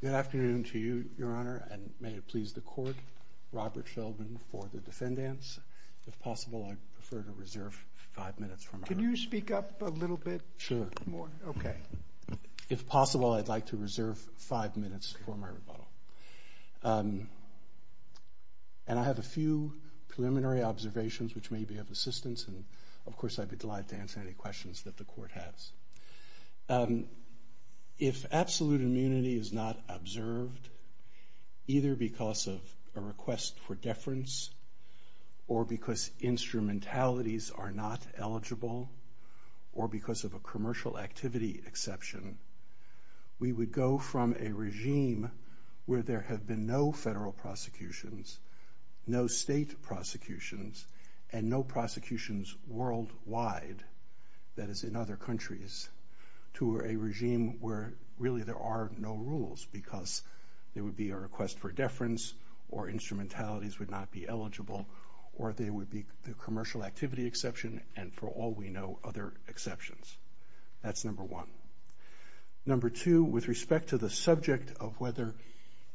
Good afternoon to you, Your Honor, and may it please the Court, Robert Sheldon for the defendants. If possible, I'd prefer to reserve five minutes for my rebuttal. Can you speak up a little bit? Sure. More? Okay. If possible, I'd like to reserve five minutes for my rebuttal. And I have a few preliminary observations which may be of assistance, and of course I'd be delighted to answer any questions that the Court has. If absolute immunity is not observed, either because of a request for deference or because instrumentalities are not eligible, or there would be the commercial activity exception, and for all we know, other exceptions. That's number one. Number two, with respect to the subject of whether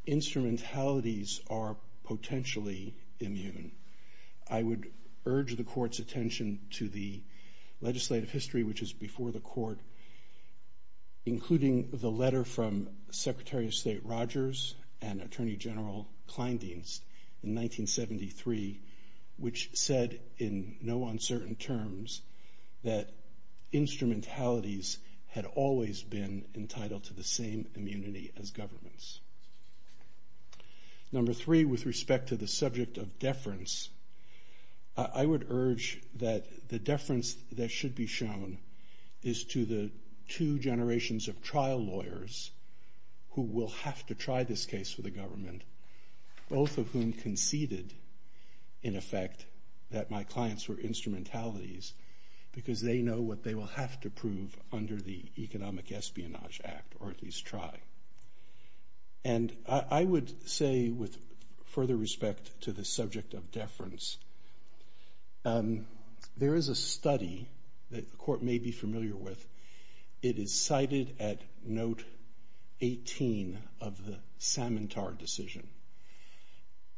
instrumentalities are potentially immune, I would urge the Court's attention to the legislative history which is before the Court, including the letter from Secretary of State Rogers and that instrumentalities had always been entitled to the same immunity as governments. Number three, with respect to the subject of deference, I would urge that the deference that should be shown is to the two generations of trial lawyers who will have to try this case for the government, both of whom conceded, in effect, that my clients were instrumentalities because they know what they will have to prove under the Economic Espionage Act, or at least try. And I would say with further respect to the subject of deference, there is a study that the Court may be familiar with. It is cited at note 18 of the Samantar decision.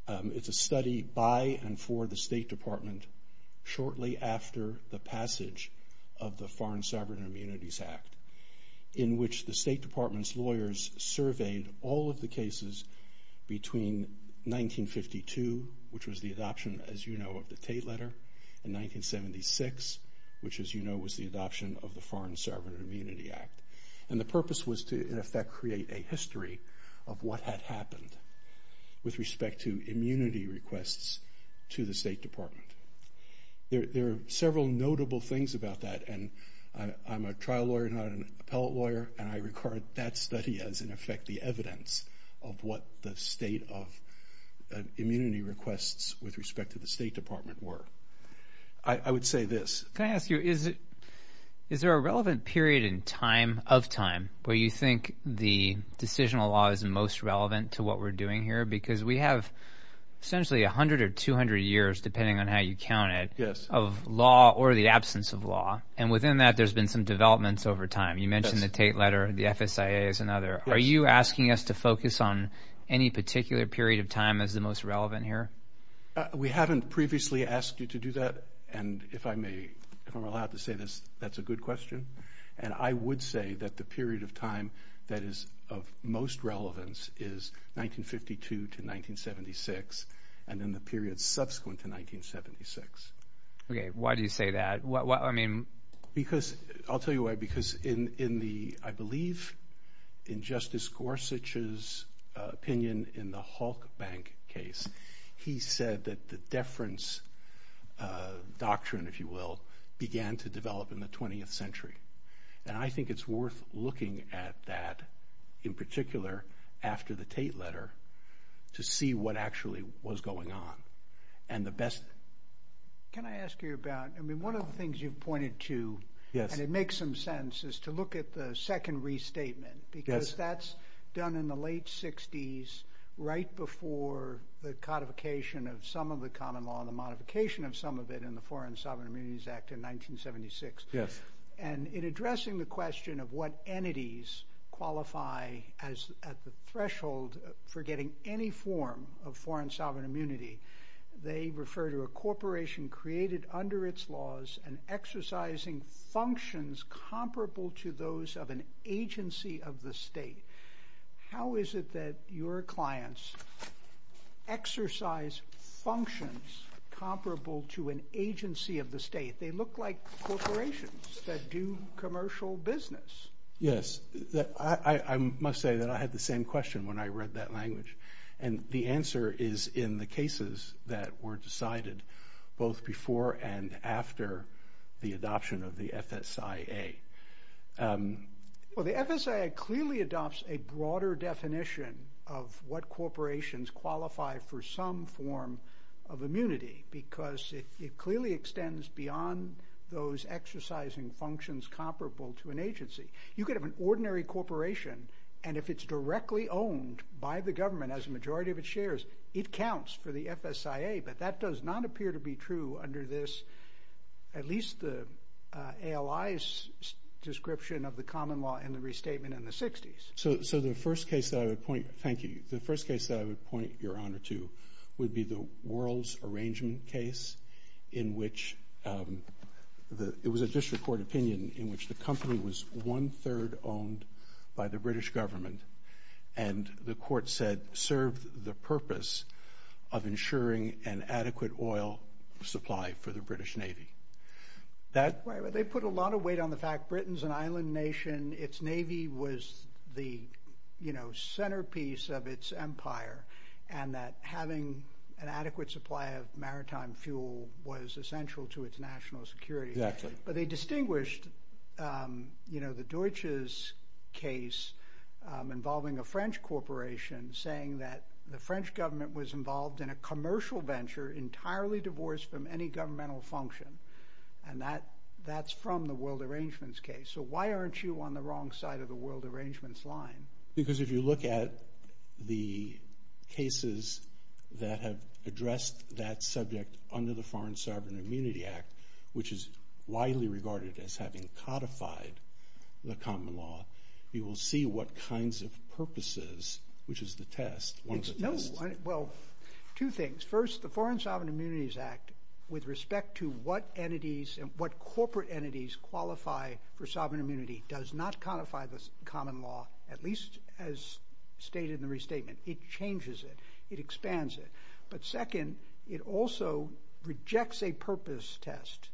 It's a study by and for the State Department shortly after the passage of the Foreign Sovereign Immunities Act, in which the State Department's lawyers surveyed all of the cases between 1952, which was the adoption, as you know, of the Tate Letter, and 1976, which as you know was the adoption of the Foreign Sovereign Immunity Act. And the purpose was to, in effect, create a history of what had happened with respect to immunity requests to the State Department. There are several notable things about that, and I'm a trial lawyer, not an appellate lawyer, and I regard that study as, in effect, the evidence of what the state of immunity requests with respect to the State Department were. I would say this. Can I ask you, is there a relevant period of time where you think the decisional law is most relevant to what we're doing here? Because we have essentially 100 or 200 years, depending on how you count it, of law or the absence of law. And within that, there's been some developments over time. You mentioned the Tate Letter, the FSIA is another. Are you asking us to focus on any particular period of time as the most relevant here? We haven't previously asked you to do that, and if I may, if I'm allowed to say this, that's a good question. And I would say that the period of time that is of most relevance is 1952 to 1976, and then the period subsequent to 1976. Okay, why do you say that? Because, I'll tell you why, because in the, I believe, in Justice Gorsuch's opinion in the Hulk Bank case, he said that the deference doctrine, if you will, began to develop in the 20th century. And I think it's worth looking at that, in particular, after the Tate Letter, to see what actually was going on. Can I ask you about, I mean, one of the things you've pointed to, and it makes some sense, is to look at the second restatement. Because that's done in the late 60s, right before the codification of some of the common law, and the modification of some of it in the Foreign Sovereign Immunities Act of 1976. Yes. And in addressing the question of what entities qualify at the threshold for getting any form of foreign sovereign immunity, they refer to a corporation created under its laws and exercising functions comparable to those of an agency of the state. How is it that your clients exercise functions comparable to an agency of the state? They look like corporations that do commercial business. Yes, I must say that I had the same question when I read that language. And the answer is in the cases that were decided both before and after the adoption of the FSIA. Well, the FSIA clearly adopts a broader definition of what corporations qualify for some form of immunity, because it clearly extends beyond those exercising functions comparable to an agency. You could have an ordinary corporation, and if it's directly owned by the government as a majority of its shares, it counts for the FSIA, but that does not appear to be true under this, at least the ALI's description of the common law in the restatement in the 60s. So the first case that I would point your honor to would be the World's Arrangement case, in which it was a district court opinion in which the company was one-third owned by the British government, and the court said served the purpose of ensuring an adequate oil supply for the British Navy. They put a lot of weight on the fact Britain's an island nation, its Navy was the centerpiece of its empire, and that having an adequate supply of maritime fuel was essential to its national security. But they distinguished the Deutsches case involving a French corporation, saying that the French government was involved in a commercial venture entirely divorced from any governmental function, and that's from the World Arrangements case. So why aren't you on the wrong side of the World Arrangements line? Because if you look at the cases that have addressed that subject under the Foreign Sovereign Immunity Act, which is widely regarded as having codified the common law, you will see what kinds of purposes, which is the test, one of the tests. No, well, two things. First, the Foreign Sovereign Immunities Act, with respect to what entities, qualify for sovereign immunity, does not codify the common law, at least as stated in the restatement. It changes it. It expands it. But second, it also rejects a purpose test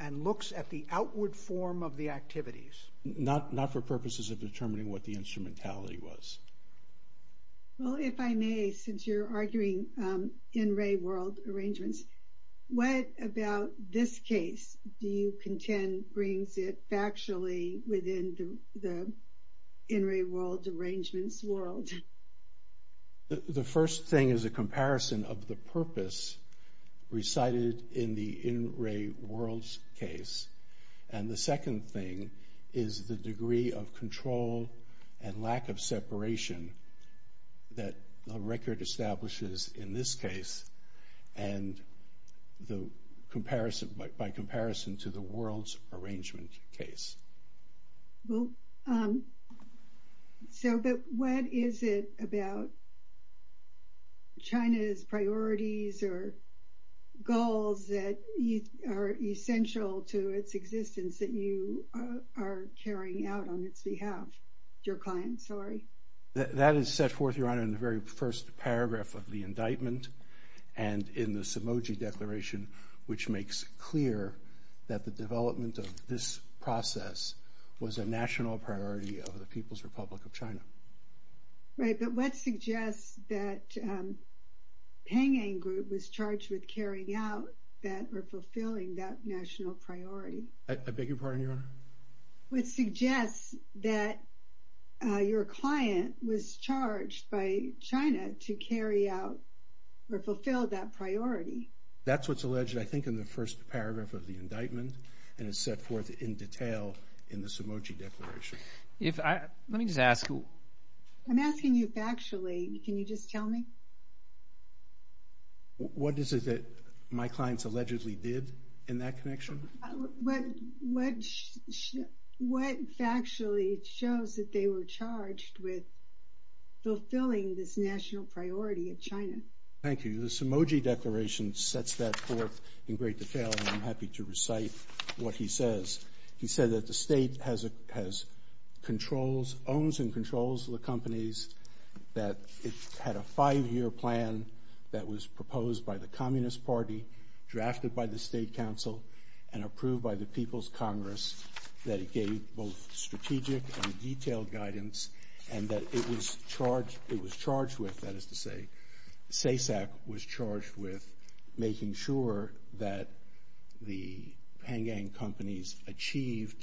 and looks at the outward form of the activities, not for purposes of determining what the instrumentality was. Well, if I may, since you're arguing in re-World Arrangements, what about this case do you contend brings it factually within the in re-World Arrangements world? The first thing is a comparison of the purpose recited in the in re-Worlds case. And the second thing is the degree of control and lack of separation that the record establishes in this case and by comparison to the World's Arrangement case. So, but what is it about China's priorities or goals that are essential to its existence that you are carrying out on its behalf? Your client, sorry. That is set forth, Your Honor, in the very first paragraph of the indictment and in the Sumoji Declaration, which makes clear that the development of this process was a national priority of the People's Republic of China. Right, but what suggests that Peng Yang Group was charged with carrying out that or fulfilling that national priority? What suggests that your client was charged by China to carry out or fulfill that priority? That's what's alleged, I think, in the first paragraph of the indictment and is set forth in detail in the Sumoji Declaration. If I, let me just ask who? I'm asking you factually. Can you just tell me? What is it that my clients allegedly did in that connection? What factually shows that they were charged with fulfilling this national priority of China? Thank you. The Sumoji Declaration sets that forth in great detail and I'm happy to recite what he says. He said that the state has controls, owns and controls the companies, that it had a five-year plan that was proposed by the Communist Party, drafted by the State Council and approved by the People's Congress, that it gave both strategic and detailed guidance, and that it was charged with, that is to say, SESAC was charged with making sure that the Peng Yang companies achieved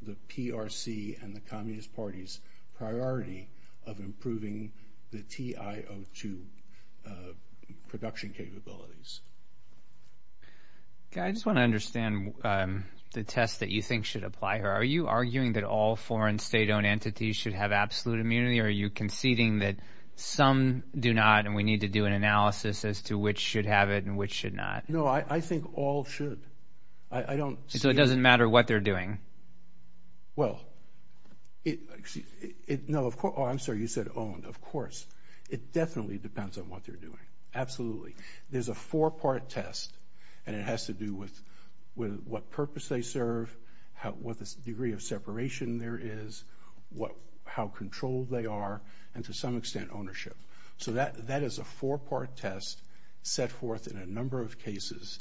the PRC and the Communist Party's priority of improving the TIO2 production capabilities. I just want to understand the test that you think should apply here. Are you arguing that all foreign state-owned entities should have absolute immunity or are you conceding that some do not and we need to do an analysis as to which should have it and which should not? No, I think all should. So it doesn't matter what they're doing? Well, no, of course, I'm sorry, you said owned. Of course, it definitely depends on what they're doing, absolutely. There's a four-part test and it has to do with what purpose they serve, what the degree of separation there is, how controlled they are and to some extent ownership. So that is a four-part test set forth in a number of cases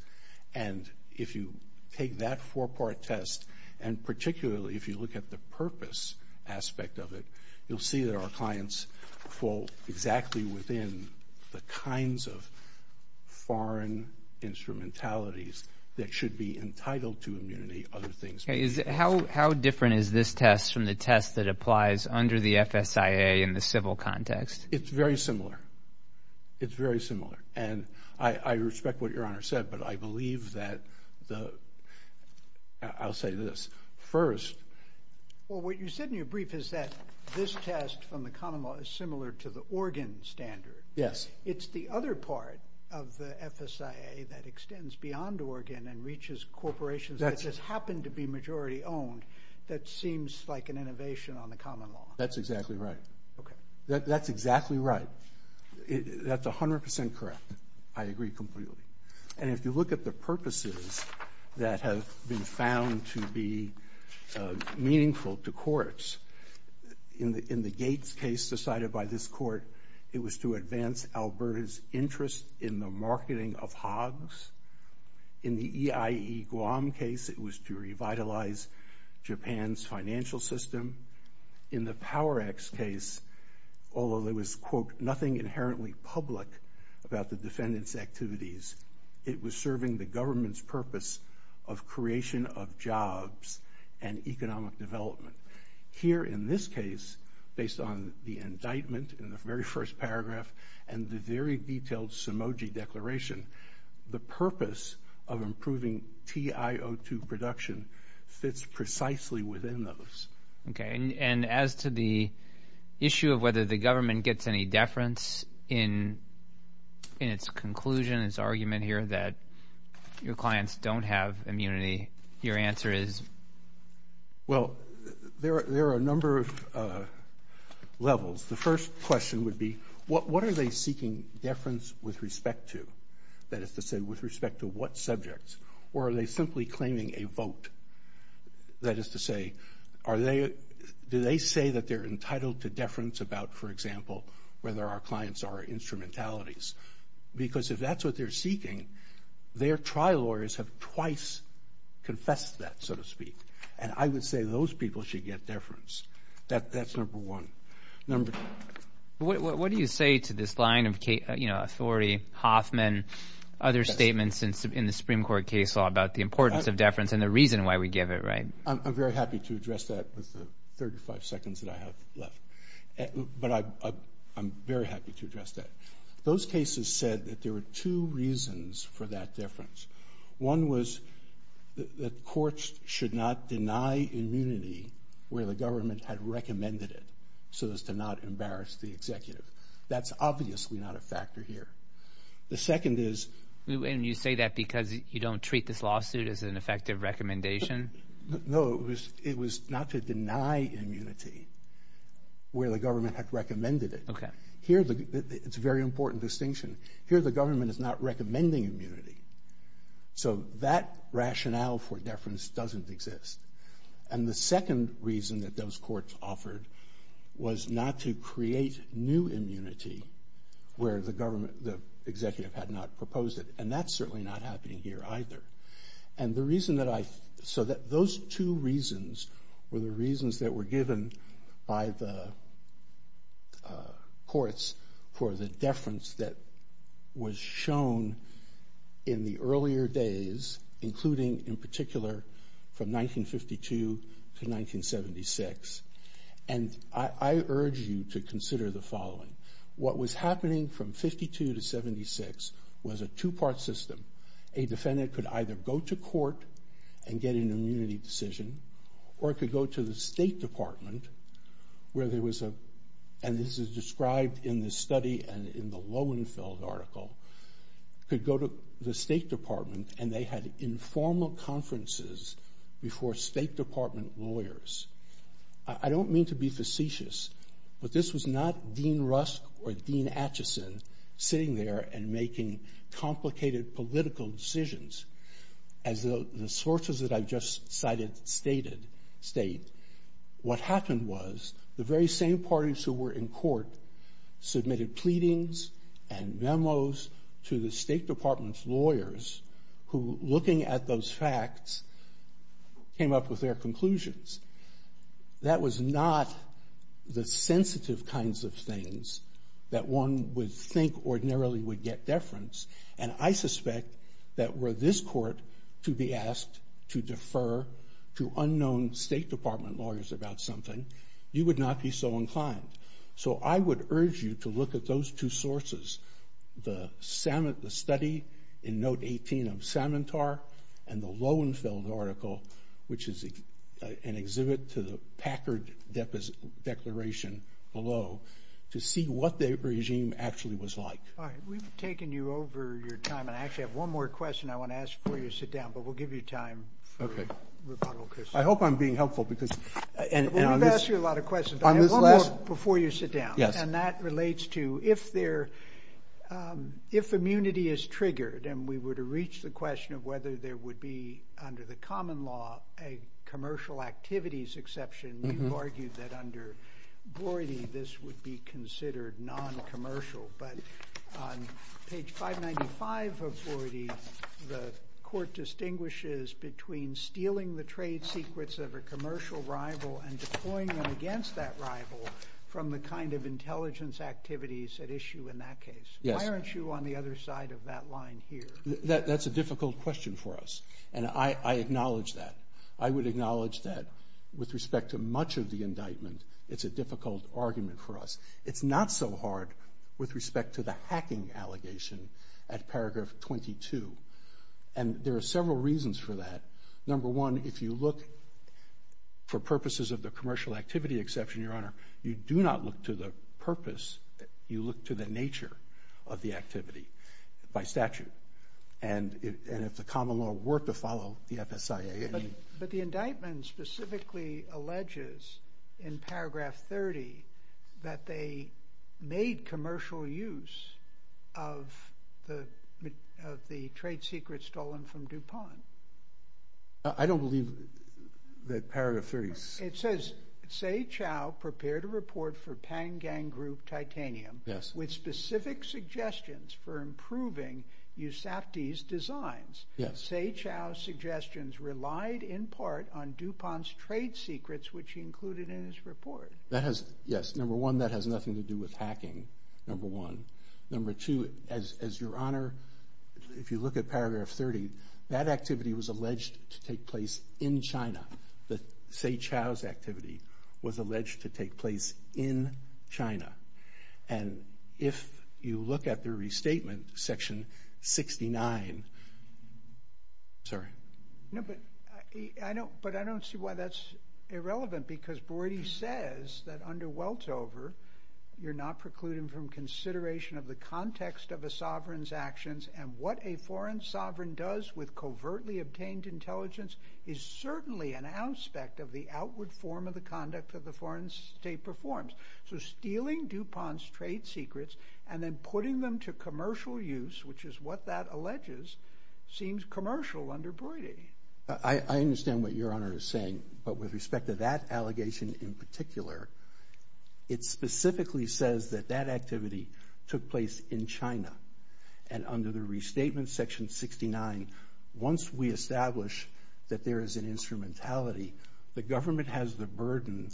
and if you take that four-part test and particularly if you look at the purpose aspect of it, you'll see that our clients fall exactly within the kinds of foreign instrumentalities that should be entitled to immunity, other things. How different is this test from the test that applies under the FSIA in the civil context? It's very similar. It's very similar and I respect what Your Honor said, but I believe that the, I'll say this. First. Well, what you said in your brief is that this test from the common law is similar to the Oregon standard. Yes. It's the other part of the FSIA that extends beyond Oregon and reaches corporations that just happen to be majority owned that seems like an innovation on the common law. That's exactly right. Okay. That's exactly right. That's 100% correct. I agree completely. And if you look at the purposes that have been found to be meaningful to courts, in the Gates case decided by this court, it was to advance Alberta's interest in the marketing of hogs. In the EIE Guam case, it was to revitalize Japan's financial system. In the Power X case, although there was, quote, nothing inherently public about the defendant's activities, it was serving the government's purpose of creation of jobs and economic development. Here in this case, based on the indictment in the very first paragraph and the very detailed Sumoji declaration, the purpose of improving TIO2 production fits precisely within those. Okay. And as to the issue of whether the government gets any deference in its conclusion, its argument here that your clients don't have immunity, your answer is? Well, there are a number of levels. The first question would be, what are they seeking deference with respect to? That is to say, with respect to what subjects? Or are they simply claiming a vote? That is to say, do they say that they're entitled to deference about, for example, whether our clients are instrumentalities? Because if that's what they're seeking, their trial lawyers have twice confessed that, so to speak. And I would say those people should get deference. That's number one. Number two. What do you say to this line of authority, Hoffman, other statements in the Supreme Court case law about the importance of deference and the reason why we give it, right? I'm very happy to address that with the 35 seconds that I have left. But I'm very happy to address that. Those cases said that there were two reasons for that deference. One was that courts should not deny immunity where the government had recommended it, so as to not embarrass the executive. That's obviously not a factor here. The second is. And you say that because you don't treat this lawsuit as an effective recommendation? No, it was not to deny immunity where the government had recommended it. Okay. It's a very important distinction. Here the government is not recommending immunity. So that rationale for deference doesn't exist. And the second reason that those courts offered was not to create new immunity where the government, the executive had not proposed it. And that's certainly not happening here either. And the reason that I... was shown in the earlier days, including in particular from 1952 to 1976. And I urge you to consider the following. What was happening from 1952 to 1976 was a two-part system. A defendant could either go to court and get an immunity decision or could go to the State Department where there was a... could go to the State Department and they had informal conferences before State Department lawyers. I don't mean to be facetious, but this was not Dean Rusk or Dean Acheson sitting there and making complicated political decisions. As the sources that I've just cited state, what happened was the very same parties who were in court submitted pleadings and memos to the State Department's lawyers who, looking at those facts, came up with their conclusions. That was not the sensitive kinds of things that one would think ordinarily would get deference. And I suspect that were this court to be asked to defer to unknown State Department lawyers about something, you would not be so inclined. So I would urge you to look at those two sources, the study in Note 18 of Samantar and the Lowenfeld article, which is an exhibit to the Packard Declaration below, to see what their regime actually was like. All right. We've taken you over your time. And I actually have one more question I want to ask before you sit down, but we'll give you time for rebuttal, Chris. I hope I'm being helpful because... Before you sit down. Yes. And that relates to if immunity is triggered and we were to reach the question of whether there would be, under the common law, a commercial activities exception, you've argued that under Broidy this would be considered noncommercial. But on page 595 of Broidy, the court distinguishes between stealing the trade secrets of a commercial rival and deploying them against that rival from the kind of intelligence activities at issue in that case. Yes. Why aren't you on the other side of that line here? That's a difficult question for us. And I acknowledge that. I would acknowledge that with respect to much of the indictment, it's a difficult argument for us. It's not so hard with respect to the hacking allegation at paragraph 22. And there are several reasons for that. Number one, if you look for purposes of the commercial activity exception, Your Honor, you do not look to the purpose. You look to the nature of the activity by statute. And if the common law were to follow the FSIA... But the indictment specifically alleges in paragraph 30 that they made commercial use of the trade secrets stolen from DuPont. I don't believe that paragraph 30... It says, Seh Chow prepared a report for Panggang Group Titanium... Yes... with specific suggestions for improving USAPTI's designs. Yes. Seh Chow's suggestions relied in part on DuPont's trade secrets, which he included in his report. Yes. Number one, that has nothing to do with hacking, number one. Number two, as Your Honor, if you look at paragraph 30, that activity was alleged to take place in China. The Seh Chow's activity was alleged to take place in China. And if you look at the restatement, section 69... Sorry. No, but I don't see why that's irrelevant. Because Broidy says that under Weltover, you're not precluding from consideration of the context of a sovereign's actions. And what a foreign sovereign does with covertly obtained intelligence is certainly an aspect of the outward form of the conduct that the foreign state performs. So stealing DuPont's trade secrets and then putting them to commercial use, which is what that alleges, seems commercial under Broidy. I understand what Your Honor is saying. But with respect to that allegation in particular, it specifically says that that activity took place in China. And under the restatement, section 69, once we establish that there is an instrumentality, the government has the burden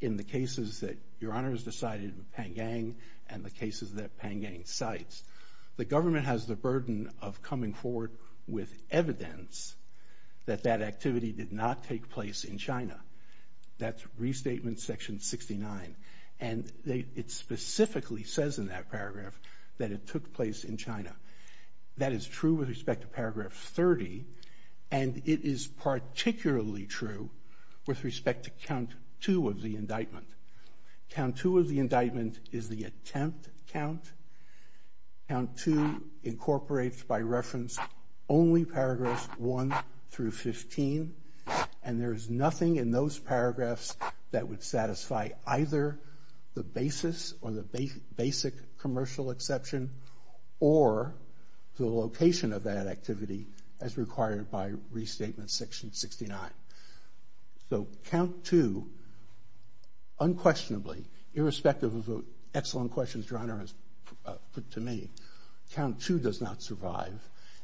in the cases that Your Honor has decided with Pan Gang and the cases that Pan Gang cites. The government has the burden of coming forward with evidence that that activity did not take place in China. That's restatement section 69. And it specifically says in that paragraph that it took place in China. That is true with respect to paragraph 30. And it is particularly true with respect to count two of the indictment. Count two of the indictment is the attempt count. Count two incorporates by reference only paragraphs one through 15. And there is nothing in those paragraphs that would satisfy either the basis or the basic commercial exception or the location of that activity as required by restatement section 69. So count two unquestionably, irrespective of the excellent questions Your Honor has put to me, count two does not survive.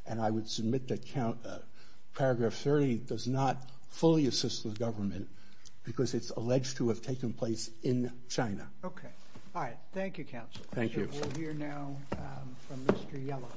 And I would submit that paragraph 30 does not fully assist the government because it's alleged to have taken place in China. Okay. All right. Thank you, Counsel. Thank you. We'll hear now from Mr. Yelovich.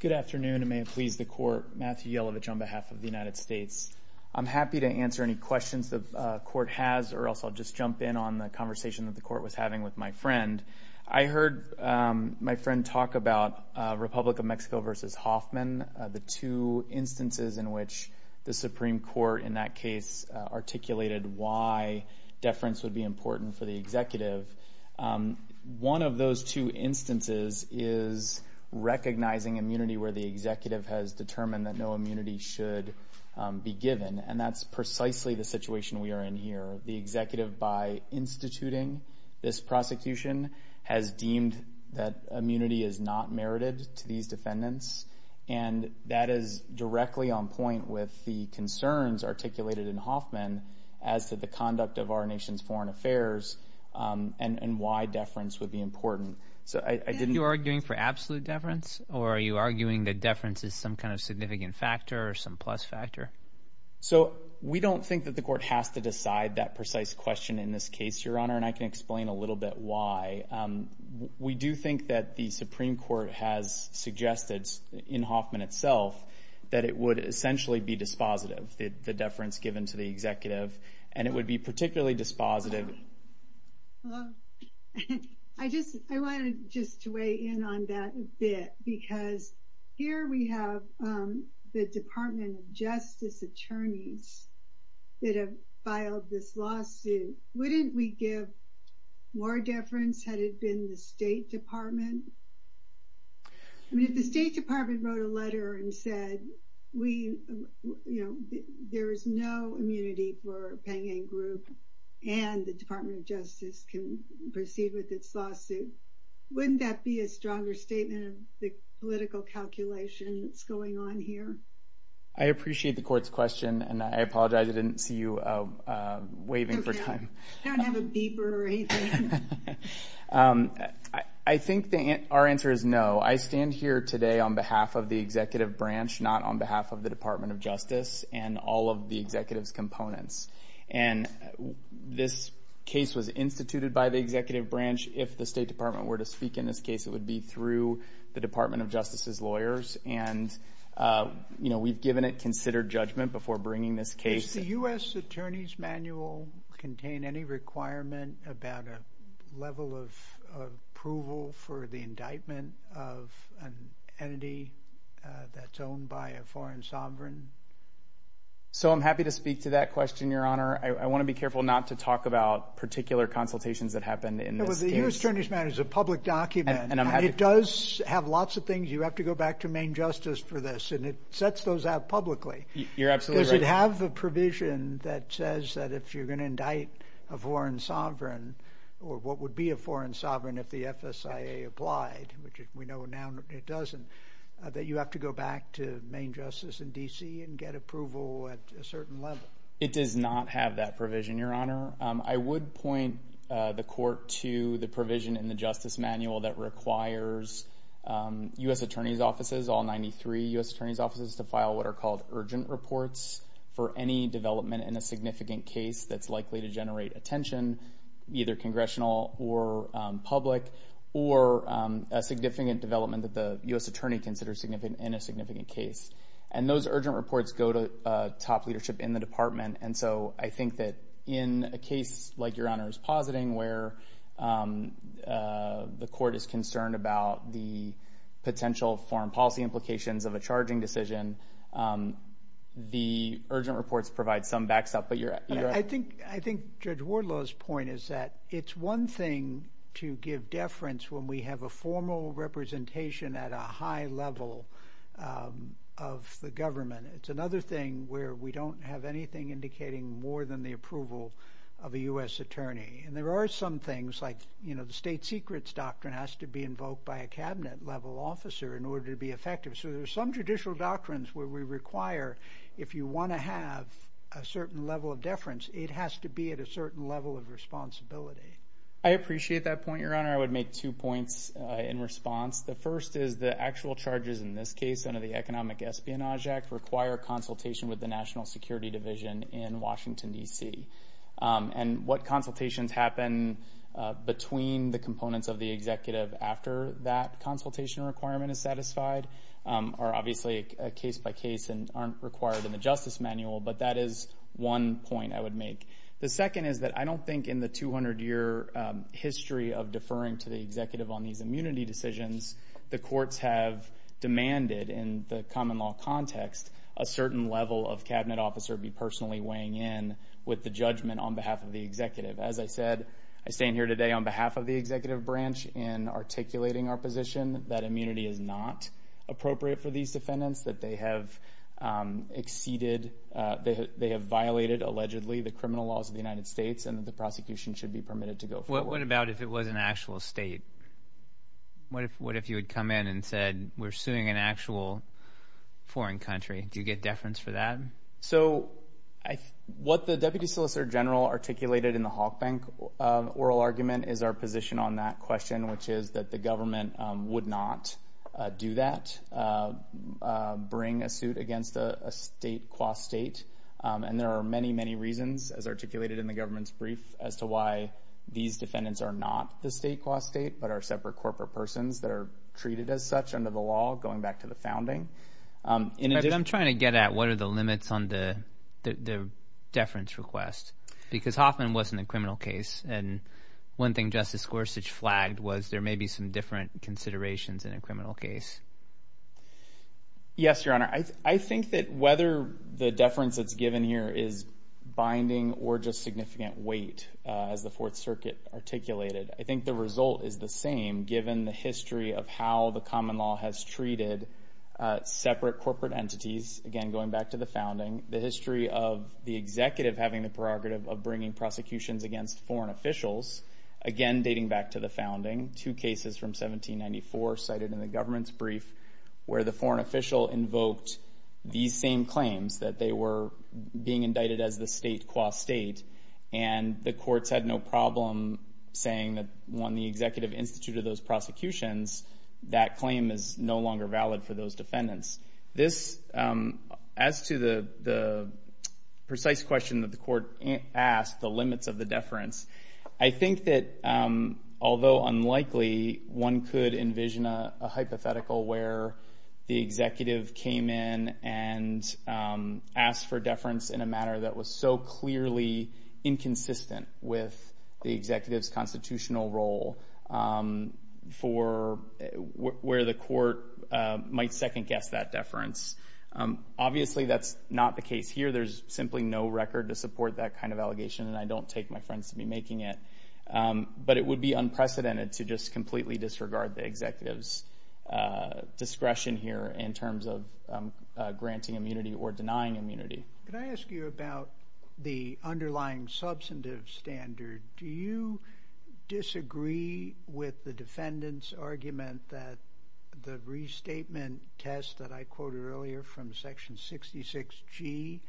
Good afternoon, and may it please the Court. Matthew Yelovich on behalf of the United States. I'm happy to answer any questions the Court has or else I'll just jump in on the conversation that the Court was having with my friend. I heard my friend talk about Republic of Mexico v. Hoffman, the two instances in which the Supreme Court in that case articulated why deference would be important for the executive. One of those two instances is recognizing immunity where the executive has determined that no immunity should be given, and that's precisely the situation we are in here. The executive by instituting this prosecution has deemed that immunity is not merited to these defendants, and that is directly on point with the concerns articulated in Hoffman as to the conduct of our nation's foreign affairs and why deference would be important. Are you arguing for absolute deference, or are you arguing that deference is some kind of significant factor or some plus factor? We don't think that the Court has to decide that precise question in this case, Your Honor, and I can explain a little bit why. We do think that the Supreme Court has suggested in Hoffman itself that it would essentially be dispositive, the deference given to the executive, and it would be particularly dispositive... I wanted just to weigh in on that a bit because here we have the Department of Justice attorneys that have filed this lawsuit. Wouldn't we give more deference had it been the State Department? I mean, if the State Department wrote a letter and said, you know, there is no immunity for Pangan Group and the Department of Justice can proceed with its lawsuit, wouldn't that be a stronger statement of the political calculation that's going on here? I appreciate the Court's question, and I apologize I didn't see you waving for time. I think our answer is no. I stand here today on behalf of the executive branch, not on behalf of the Department of Justice and all of the executive's components, and this case was instituted by the executive branch. If the State Department were to speak in this case, it would be through the Department of Justice's lawyers, and, you know, we've given it considered judgment before bringing this case. Does the U.S. Attorney's Manual contain any requirement about a level of approval for the indictment of an entity that's owned by a foreign sovereign? So I'm happy to speak to that question, Your Honor. I want to be careful not to talk about particular consultations that happened in this case. The U.S. Attorney's Manual is a public document. It does have lots of things. You have to go back to Maine Justice for this, and it sets those out publicly. You're absolutely right. Does it have the provision that says that if you're going to indict a foreign sovereign or what would be a foreign sovereign if the FSIA applied, which we know now it doesn't, that you have to go back to Maine Justice in D.C. and get approval at a certain level? It does not have that provision, Your Honor. I would point the court to the provision in the Justice Manual that requires U.S. Attorney's offices, all 93 U.S. Attorney's offices, to file what are called urgent reports for any development in a significant case that's likely to generate attention, either congressional or public, or a significant development that the U.S. Attorney considers in a significant case. And those urgent reports go to top leadership in the department, and so I think that in a case like Your Honor is positing where the court is concerned about the potential foreign policy implications of a charging decision, the urgent reports provide some backstop. I think Judge Wardlow's point is that it's one thing to give deference when we have a formal representation at a high level of the government. It's another thing where we don't have anything indicating more than the approval of a U.S. Attorney. And there are some things like, you know, the state secrets doctrine has to be invoked by a cabinet-level officer in order to be effective. So there's some judicial doctrines where we require if you want to have a certain level of deference, it has to be at a certain level of responsibility. I appreciate that point, Your Honor. I would make two points in response. The first is the actual charges in this case under the Economic Espionage Act require consultation with the National Security Division in Washington, D.C. And what consultations happen between the components of the executive after that consultation requirement is satisfied are obviously a case-by-case and aren't required in the justice manual, but that is one point I would make. The second is that I don't think in the 200-year history of deferring to the executive on these immunity decisions the courts have demanded in the common law context a certain level of cabinet officer be personally weighing in with the judgment on behalf of the executive. As I said, I stand here today on behalf of the executive branch in articulating our position that immunity is not appropriate for these defendants, that they have violated allegedly the criminal laws of the United States and that the prosecution should be permitted to go forward. What about if it was an actual state? What if you had come in and said we're suing an actual foreign country? Do you get deference for that? So what the Deputy Solicitor General articulated in the Hawk Bank oral argument is our position on that question, which is that the government would not do that, bring a suit against a state qua state. And there are many, many reasons, as articulated in the government's brief, as to why these defendants are not the state qua state but are separate corporate persons that are treated as such under the law going back to the founding. I'm trying to get at what are the limits on the deference request because Hoffman wasn't a criminal case, and one thing Justice Gorsuch flagged was there may be some different considerations in a criminal case. Yes, Your Honor. I think that whether the deference that's given here is binding or just significant weight, as the Fourth Circuit articulated, I think the result is the same given the history of how the common law has treated separate corporate entities, again going back to the founding, the history of the executive having the prerogative of bringing prosecutions against foreign officials, again dating back to the founding, two cases from 1794 cited in the government's brief where the foreign official invoked these same claims, that they were being indicted as the state qua state, and the courts had no problem saying that when the executive instituted those prosecutions, that claim is no longer valid for those defendants. This, as to the precise question that the court asked, the limits of the deference, I think that although unlikely, one could envision a hypothetical where the executive came in and asked for deference in a matter that was so clearly inconsistent with the executive's constitutional role for where the court might second guess that deference. Obviously, that's not the case here. There's simply no record to support that kind of allegation, and I don't take my friends to be making it, but it would be unprecedented to just completely disregard the executive's discretion here in terms of granting immunity or denying immunity. Can I ask you about the underlying substantive standard? Do you disagree with the defendant's argument that the restatement test that I quoted earlier from Section 66G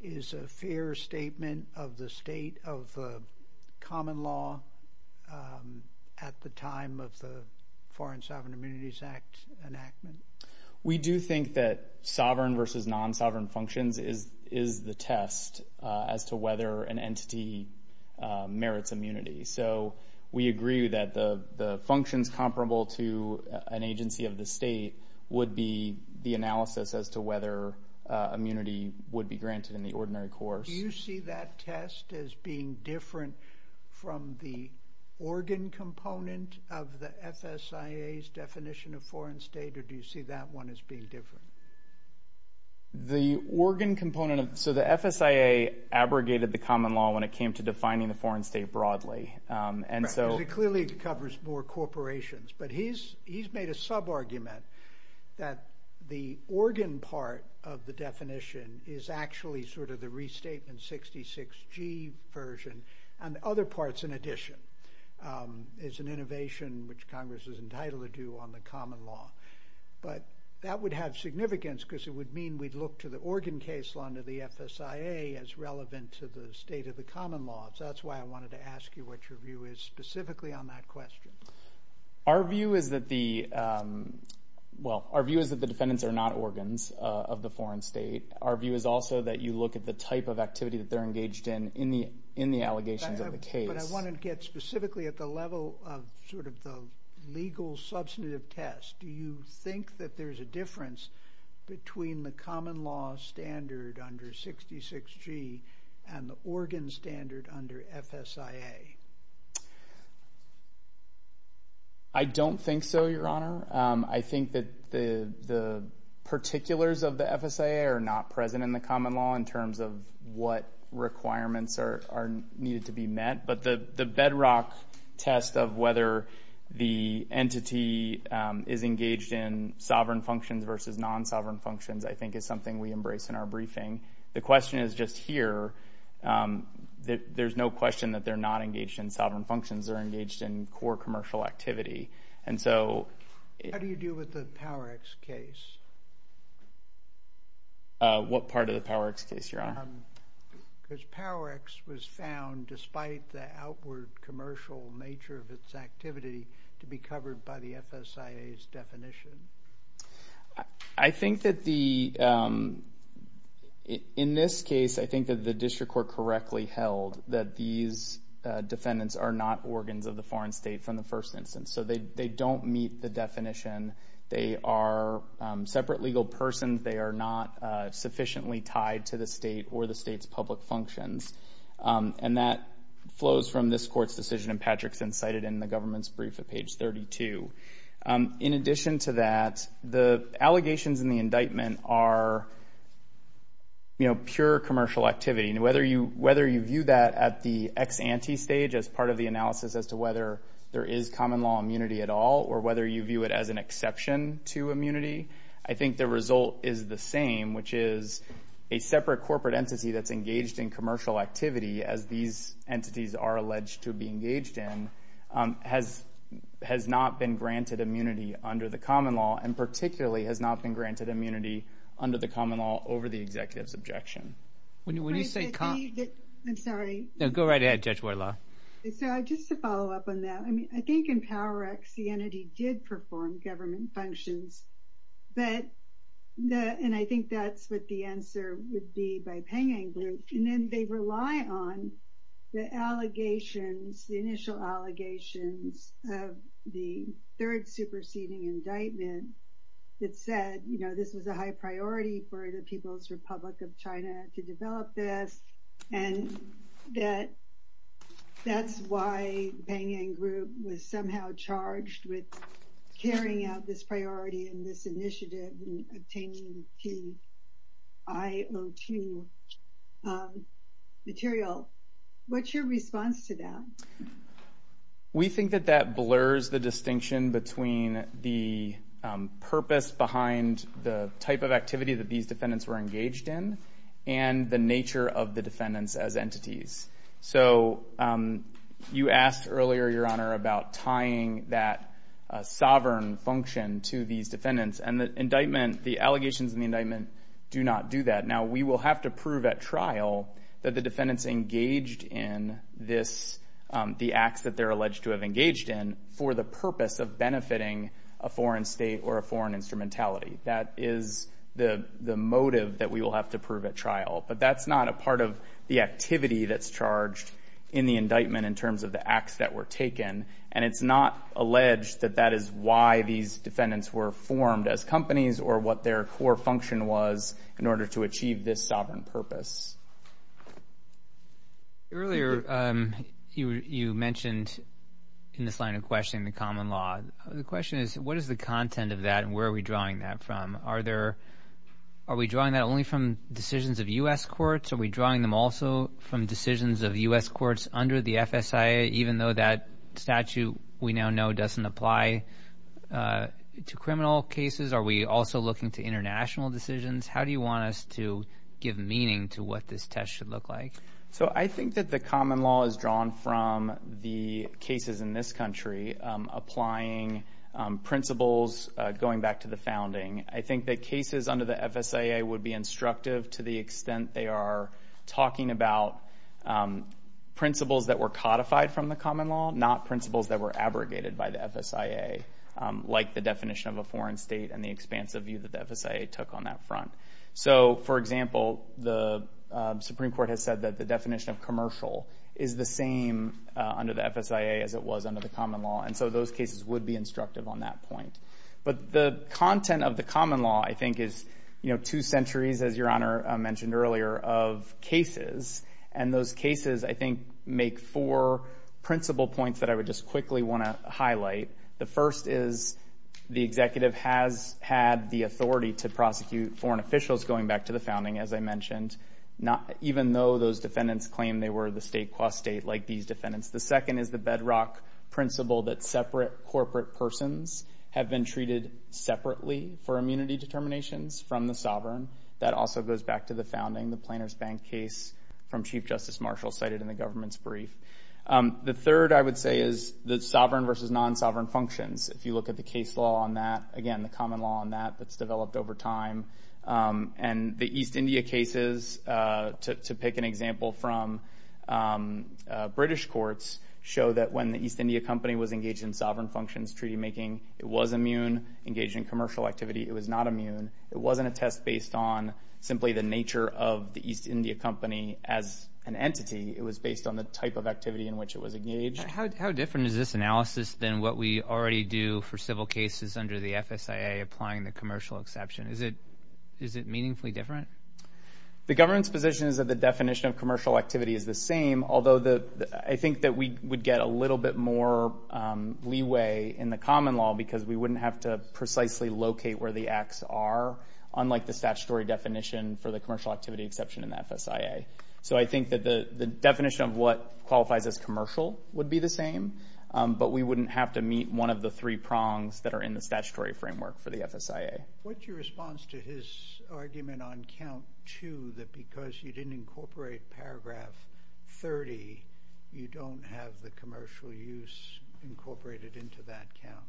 is a fair statement of the state of the common law at the time of the Foreign Sovereign Immunities Act enactment? We do think that sovereign versus non-sovereign functions is the test as to whether an entity merits immunity. So we agree that the functions comparable to an agency of the state would be the analysis as to whether immunity would be granted in the ordinary course. Do you see that test as being different from the organ component of the FSIA's definition of foreign state, or do you see that one as being different? The organ component of the FSIA abrogated the common law when it came to defining the foreign state broadly. Because it clearly covers more corporations. But he's made a sub-argument that the organ part of the definition is actually sort of the restatement 66G version, and other parts in addition. It's an innovation which Congress is entitled to do on the common law. But that would have significance because it would mean we'd look to the organ case law under the FSIA as relevant to the state of the common law. So that's why I wanted to ask you what your view is specifically on that question. Our view is that the defendants are not organs of the foreign state. Our view is also that you look at the type of activity that they're engaged in in the allegations of the case. But I wanted to get specifically at the level of sort of the legal substantive test. Do you think that there's a difference between the common law standard under 66G and the organ standard under FSIA? I don't think so, Your Honor. I think that the particulars of the FSIA are not present in the common law in terms of what requirements are needed to be met. But the bedrock test of whether the entity is engaged in sovereign functions versus non-sovereign functions I think is something we embrace in our briefing. The question is just here. There's no question that they're not engaged in sovereign functions. They're engaged in core commercial activity. How do you deal with the PowerX case? What part of the PowerX case, Your Honor? Because PowerX was found, despite the outward commercial nature of its activity, to be covered by the FSIA's definition. I think that in this case, I think that the district court correctly held that these defendants are not organs of the foreign state from the first instance. So they don't meet the definition. They are separate legal persons. They are not sufficiently tied to the state or the state's public functions. And that flows from this court's decision in Patrickson, cited in the government's brief at page 32. In addition to that, the allegations in the indictment are pure commercial activity. And whether you view that at the ex ante stage as part of the analysis as to whether there is common law immunity at all or whether you view it as an exception to immunity, I think the result is the same, which is a separate corporate entity that's engaged in commercial activity, as these entities are alleged to be engaged in, has not been granted immunity under the common law and particularly has not been granted immunity under the common law over the executive's objection. I'm sorry. No, go right ahead, Judge Woyla. So just to follow up on that, I mean, I think in PowerX the entity did perform government functions, and I think that's what the answer would be by panging group. And then they rely on the allegations, the initial allegations of the third superseding indictment that said, you know, this was a high priority for the People's Republic of China to develop this, and that that's why panging group was somehow charged with carrying out this priority and this initiative in obtaining the PIO2 material. What's your response to that? We think that that blurs the distinction between the purpose behind the type of activity that these defendants were engaged in and the nature of the defendants as entities. So you asked earlier, Your Honor, about tying that sovereign function to these defendants, and the indictment, the allegations in the indictment do not do that. Now, we will have to prove at trial that the defendants engaged in this, the acts that they're alleged to have engaged in, for the purpose of benefiting a foreign state or a foreign instrumentality. That is the motive that we will have to prove at trial. But that's not a part of the activity that's charged in the indictment in terms of the acts that were taken, and it's not alleged that that is why these defendants were formed as companies or what their core function was in order to achieve this sovereign purpose. Earlier, you mentioned in this line of questioning the common law. The question is, what is the content of that, and where are we drawing that from? Are we drawing that only from decisions of U.S. courts? Are we drawing them also from decisions of U.S. courts under the FSIA, even though that statute we now know doesn't apply to criminal cases? Are we also looking to international decisions? How do you want us to give meaning to what this test should look like? I think that the common law is drawn from the cases in this country, applying principles going back to the founding. I think that cases under the FSIA would be instructive to the extent they are talking about principles that were codified from the common law, not principles that were abrogated by the FSIA, like the definition of a foreign state and the expansive view that the FSIA took on that front. For example, the Supreme Court has said that the definition of commercial is the same under the FSIA as it was under the common law, and so those cases would be instructive on that point. But the content of the common law, I think, is, you know, two centuries, as Your Honor mentioned earlier, of cases, and those cases, I think, make four principle points that I would just quickly want to highlight. The first is the executive has had the authority to prosecute foreign officials, going back to the founding, as I mentioned, even though those defendants claim they were the state qua state, like these defendants. The second is the bedrock principle that separate corporate persons have been treated separately for immunity determinations from the sovereign. That also goes back to the founding, the Planers Bank case from Chief Justice Marshall cited in the government's brief. The third, I would say, is the sovereign versus non-sovereign functions. If you look at the case law on that, again, the common law on that that's developed over time, and the East India cases, to pick an example from British courts, show that when the East India Company was engaged in sovereign functions treaty-making, it was immune, engaged in commercial activity. It was not immune. It wasn't a test based on simply the nature of the East India Company as an entity. It was based on the type of activity in which it was engaged. How different is this analysis than what we already do for civil cases under the FSIA applying the commercial exception? Is it meaningfully different? The government's position is that the definition of commercial activity is the same, although I think that we would get a little bit more leeway in the common law because we wouldn't have to precisely locate where the acts are, unlike the statutory definition for the commercial activity exception in the FSIA. So I think that the definition of what qualifies as commercial would be the same, but we wouldn't have to meet one of the three prongs that are in the statutory framework for the FSIA. What's your response to his argument on Count 2 that because you didn't incorporate Paragraph 30, you don't have the commercial use incorporated into that count?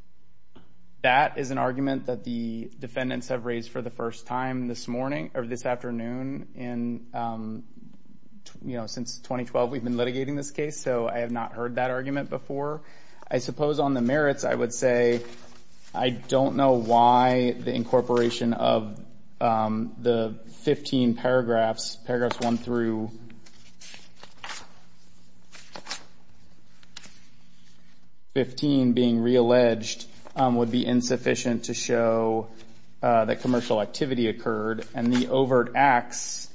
That is an argument that the defendants have raised for the first time this afternoon. Since 2012 we've been litigating this case, so I have not heard that argument before. I suppose on the merits I would say I don't know why the incorporation of the 15 paragraphs, Paragraphs 1 through 15 being realleged, would be insufficient to show that commercial activity occurred and the overt acts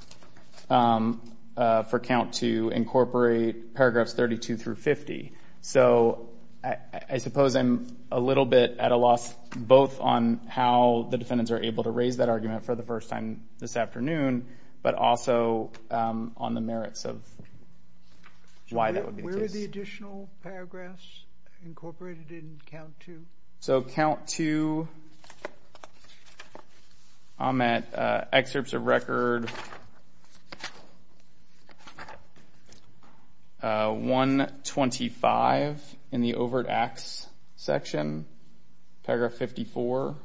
for Count 2 incorporate Paragraphs 32 through 50. So I suppose I'm a little bit at a loss both on how the defendants are able to raise that argument for the first time this afternoon, but also on the merits of why that would be the case. Where are the additional paragraphs incorporated in Count 2? So Count 2, I'm at Excerpts of Record 125 in the overt acts section, Paragraph 54. Is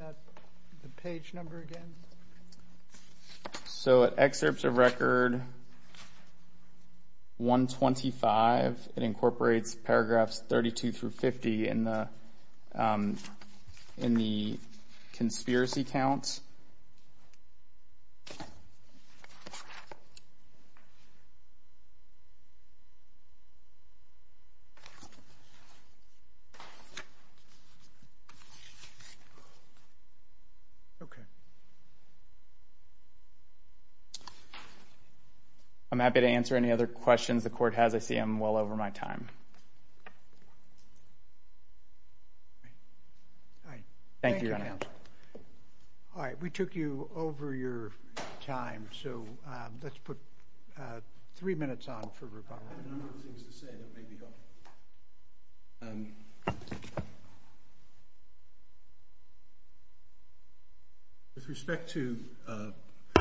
that the page number again? So at Excerpts of Record 125, it incorporates Paragraphs 32 through 50 in the conspiracy count. I'm happy to answer any other questions the court has. I see I'm well over my time. Thank you, Your Honor. All right, we took you over your time, so let's put three minutes on for rebuttal. I have a number of things to say that may be helpful. With respect to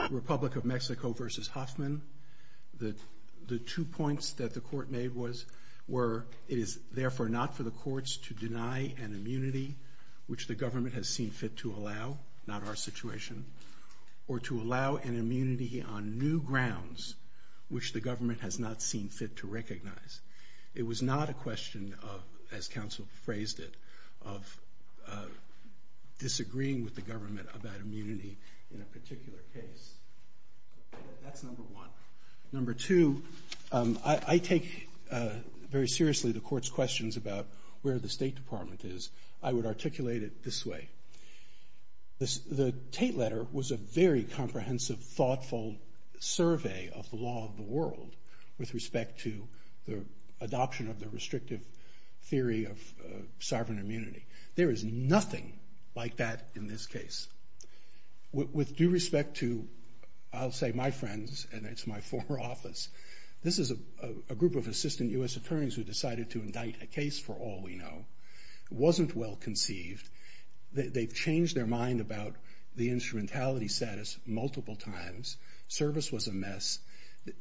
Republic of Mexico v. Hoffman, the two points that the court made were, it is therefore not for the courts to deny an immunity, which the government has seen fit to allow, not our situation, or to allow an immunity on new grounds, which the government has not seen fit to recognize. It was not a question of, as counsel phrased it, of disagreeing with the government about immunity in a particular case. That's number one. Number two, I take very seriously the court's questions about where the State Department is. I would articulate it this way. The Tate letter was a very comprehensive, thoughtful survey of the law of the world with respect to the adoption of the restrictive theory of sovereign immunity. There is nothing like that in this case. With due respect to, I'll say, my friends, and it's my former office, this is a group of assistant U.S. attorneys who decided to indict a case for all we know. It wasn't well conceived. They've changed their mind about the instrumentality status multiple times. Service was a mess.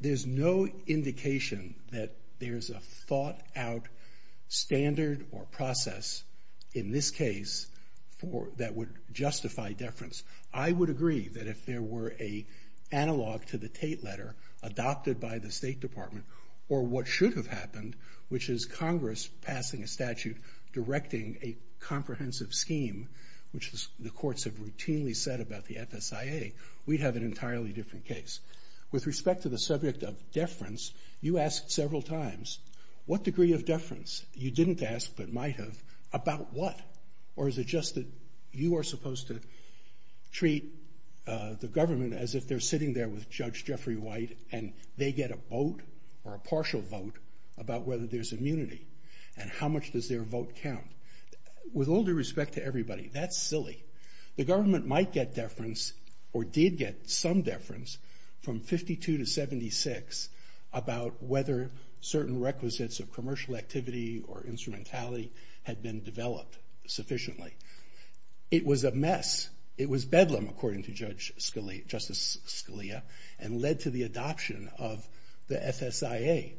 There's no indication that there's a thought-out standard or process in this case that would justify deference. I would agree that if there were an analog to the Tate letter adopted by the State Department or what should have happened, which is Congress passing a statute directing a comprehensive scheme, which the courts have routinely said about the FSIA, we'd have an entirely different case. With respect to the subject of deference, you asked several times, what degree of deference? You didn't ask, but might have, about what? Or is it just that you are supposed to treat the government as if they're sitting there with Judge Jeffrey White and they get a vote or a partial vote about whether there's immunity and how much does their vote count? With all due respect to everybody, that's silly. The government might get deference or did get some deference from 52 to 76 about whether certain requisites of commercial activity or instrumentality had been developed sufficiently. It was a mess. It was bedlam, according to Justice Scalia, and led to the adoption of the FSIA.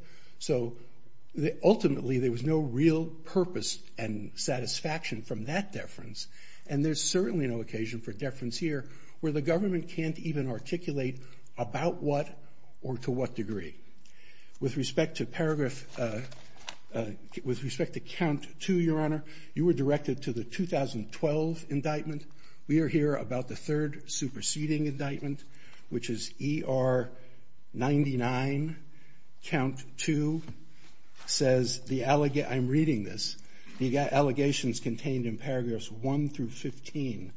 Ultimately, there was no real purpose and satisfaction from that deference, and there's certainly no occasion for deference here where the government can't even articulate about what or to what degree. With respect to paragraph, with respect to Count 2, Your Honor, you were directed to the 2012 indictment. We are here about the third superseding indictment, which is ER 99, Count 2, says the, I'm reading this, the allegations contained in paragraphs 1 through 15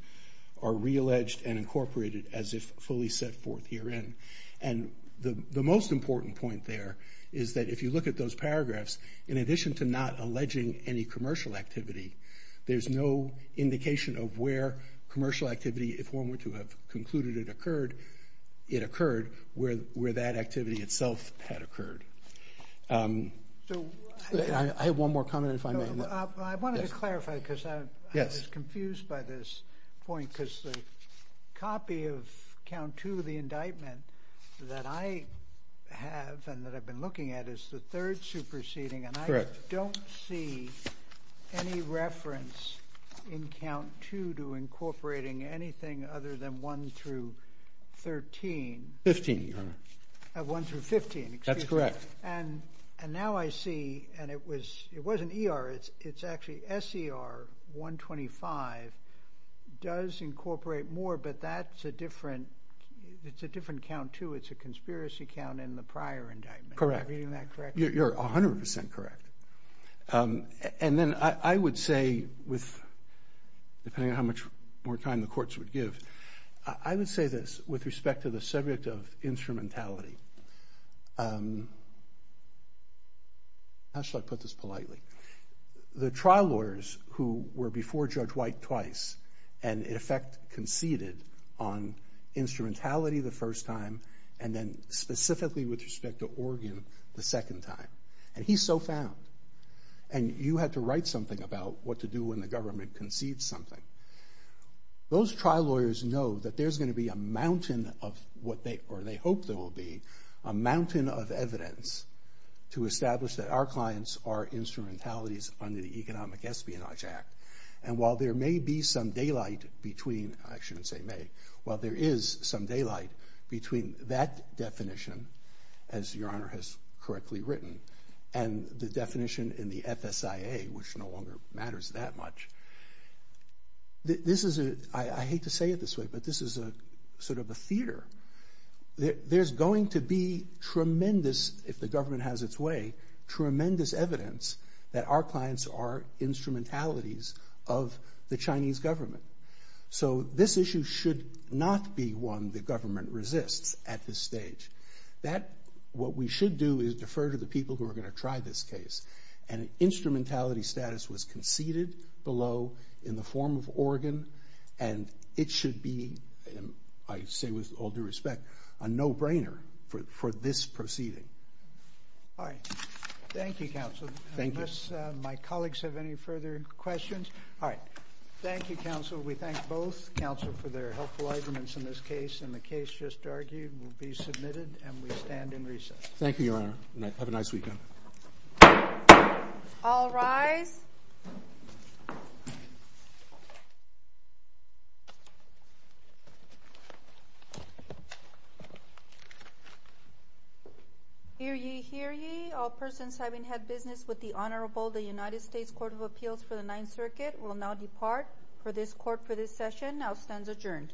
are realleged and incorporated as if fully set forth herein. And the most important point there is that if you look at those paragraphs, in addition to not alleging any commercial activity, there's no indication of where commercial activity, if one were to have concluded it occurred, where that activity itself had occurred. I have one more comment if I may. I wanted to clarify because I was confused by this point because the copy of Count 2, the indictment, that I have and that I've been looking at is the third superseding, and I don't see any reference in Count 2 to incorporating anything other than 1 through 13. 15, Your Honor. 1 through 15. That's correct. And now I see, and it wasn't ER, it's actually SER 125 does incorporate more, but that's a different Count 2. It's a conspiracy count in the prior indictment. Correct. Am I reading that correct? You're 100% correct. And then I would say, depending on how much more time the courts would give, I would say this with respect to the subject of instrumentality. How should I put this politely? The trial lawyers who were before Judge White twice and in effect conceded on instrumentality the first time and then specifically with respect to Oregon the second time, and he's so found, and you had to write something about what to do when the government concedes something. Those trial lawyers know that there's going to be a mountain of what they, or they hope there will be, a mountain of evidence to establish that our clients are instrumentalities under the Economic Espionage Act. And while there may be some daylight between, I shouldn't say may, while there is some daylight between that definition, as Your Honor has correctly written, and the definition in the FSIA, which no longer matters that much, this is a, I hate to say it this way, but this is a sort of a theater. There's going to be tremendous, if the government has its way, tremendous evidence that our clients are instrumentalities of the Chinese government. So this issue should not be one the government resists at this stage. What we should do is defer to the people who are going to try this case, and instrumentality status was conceded below in the form of Oregon, and it should be, I say with all due respect, a no-brainer for this proceeding. All right. Thank you, Counsel. Thank you. Unless my colleagues have any further questions. All right. Thank you, Counsel. We thank both counsel for their helpful arguments in this case, and the case just argued will be submitted, and we stand in recess. Thank you, Your Honor. Have a nice weekend. All rise. Hear ye, hear ye. All persons having had business with the Honorable, the United States Court of Appeals for the Ninth Circuit, will now depart for this court for this session. Now stands adjourned.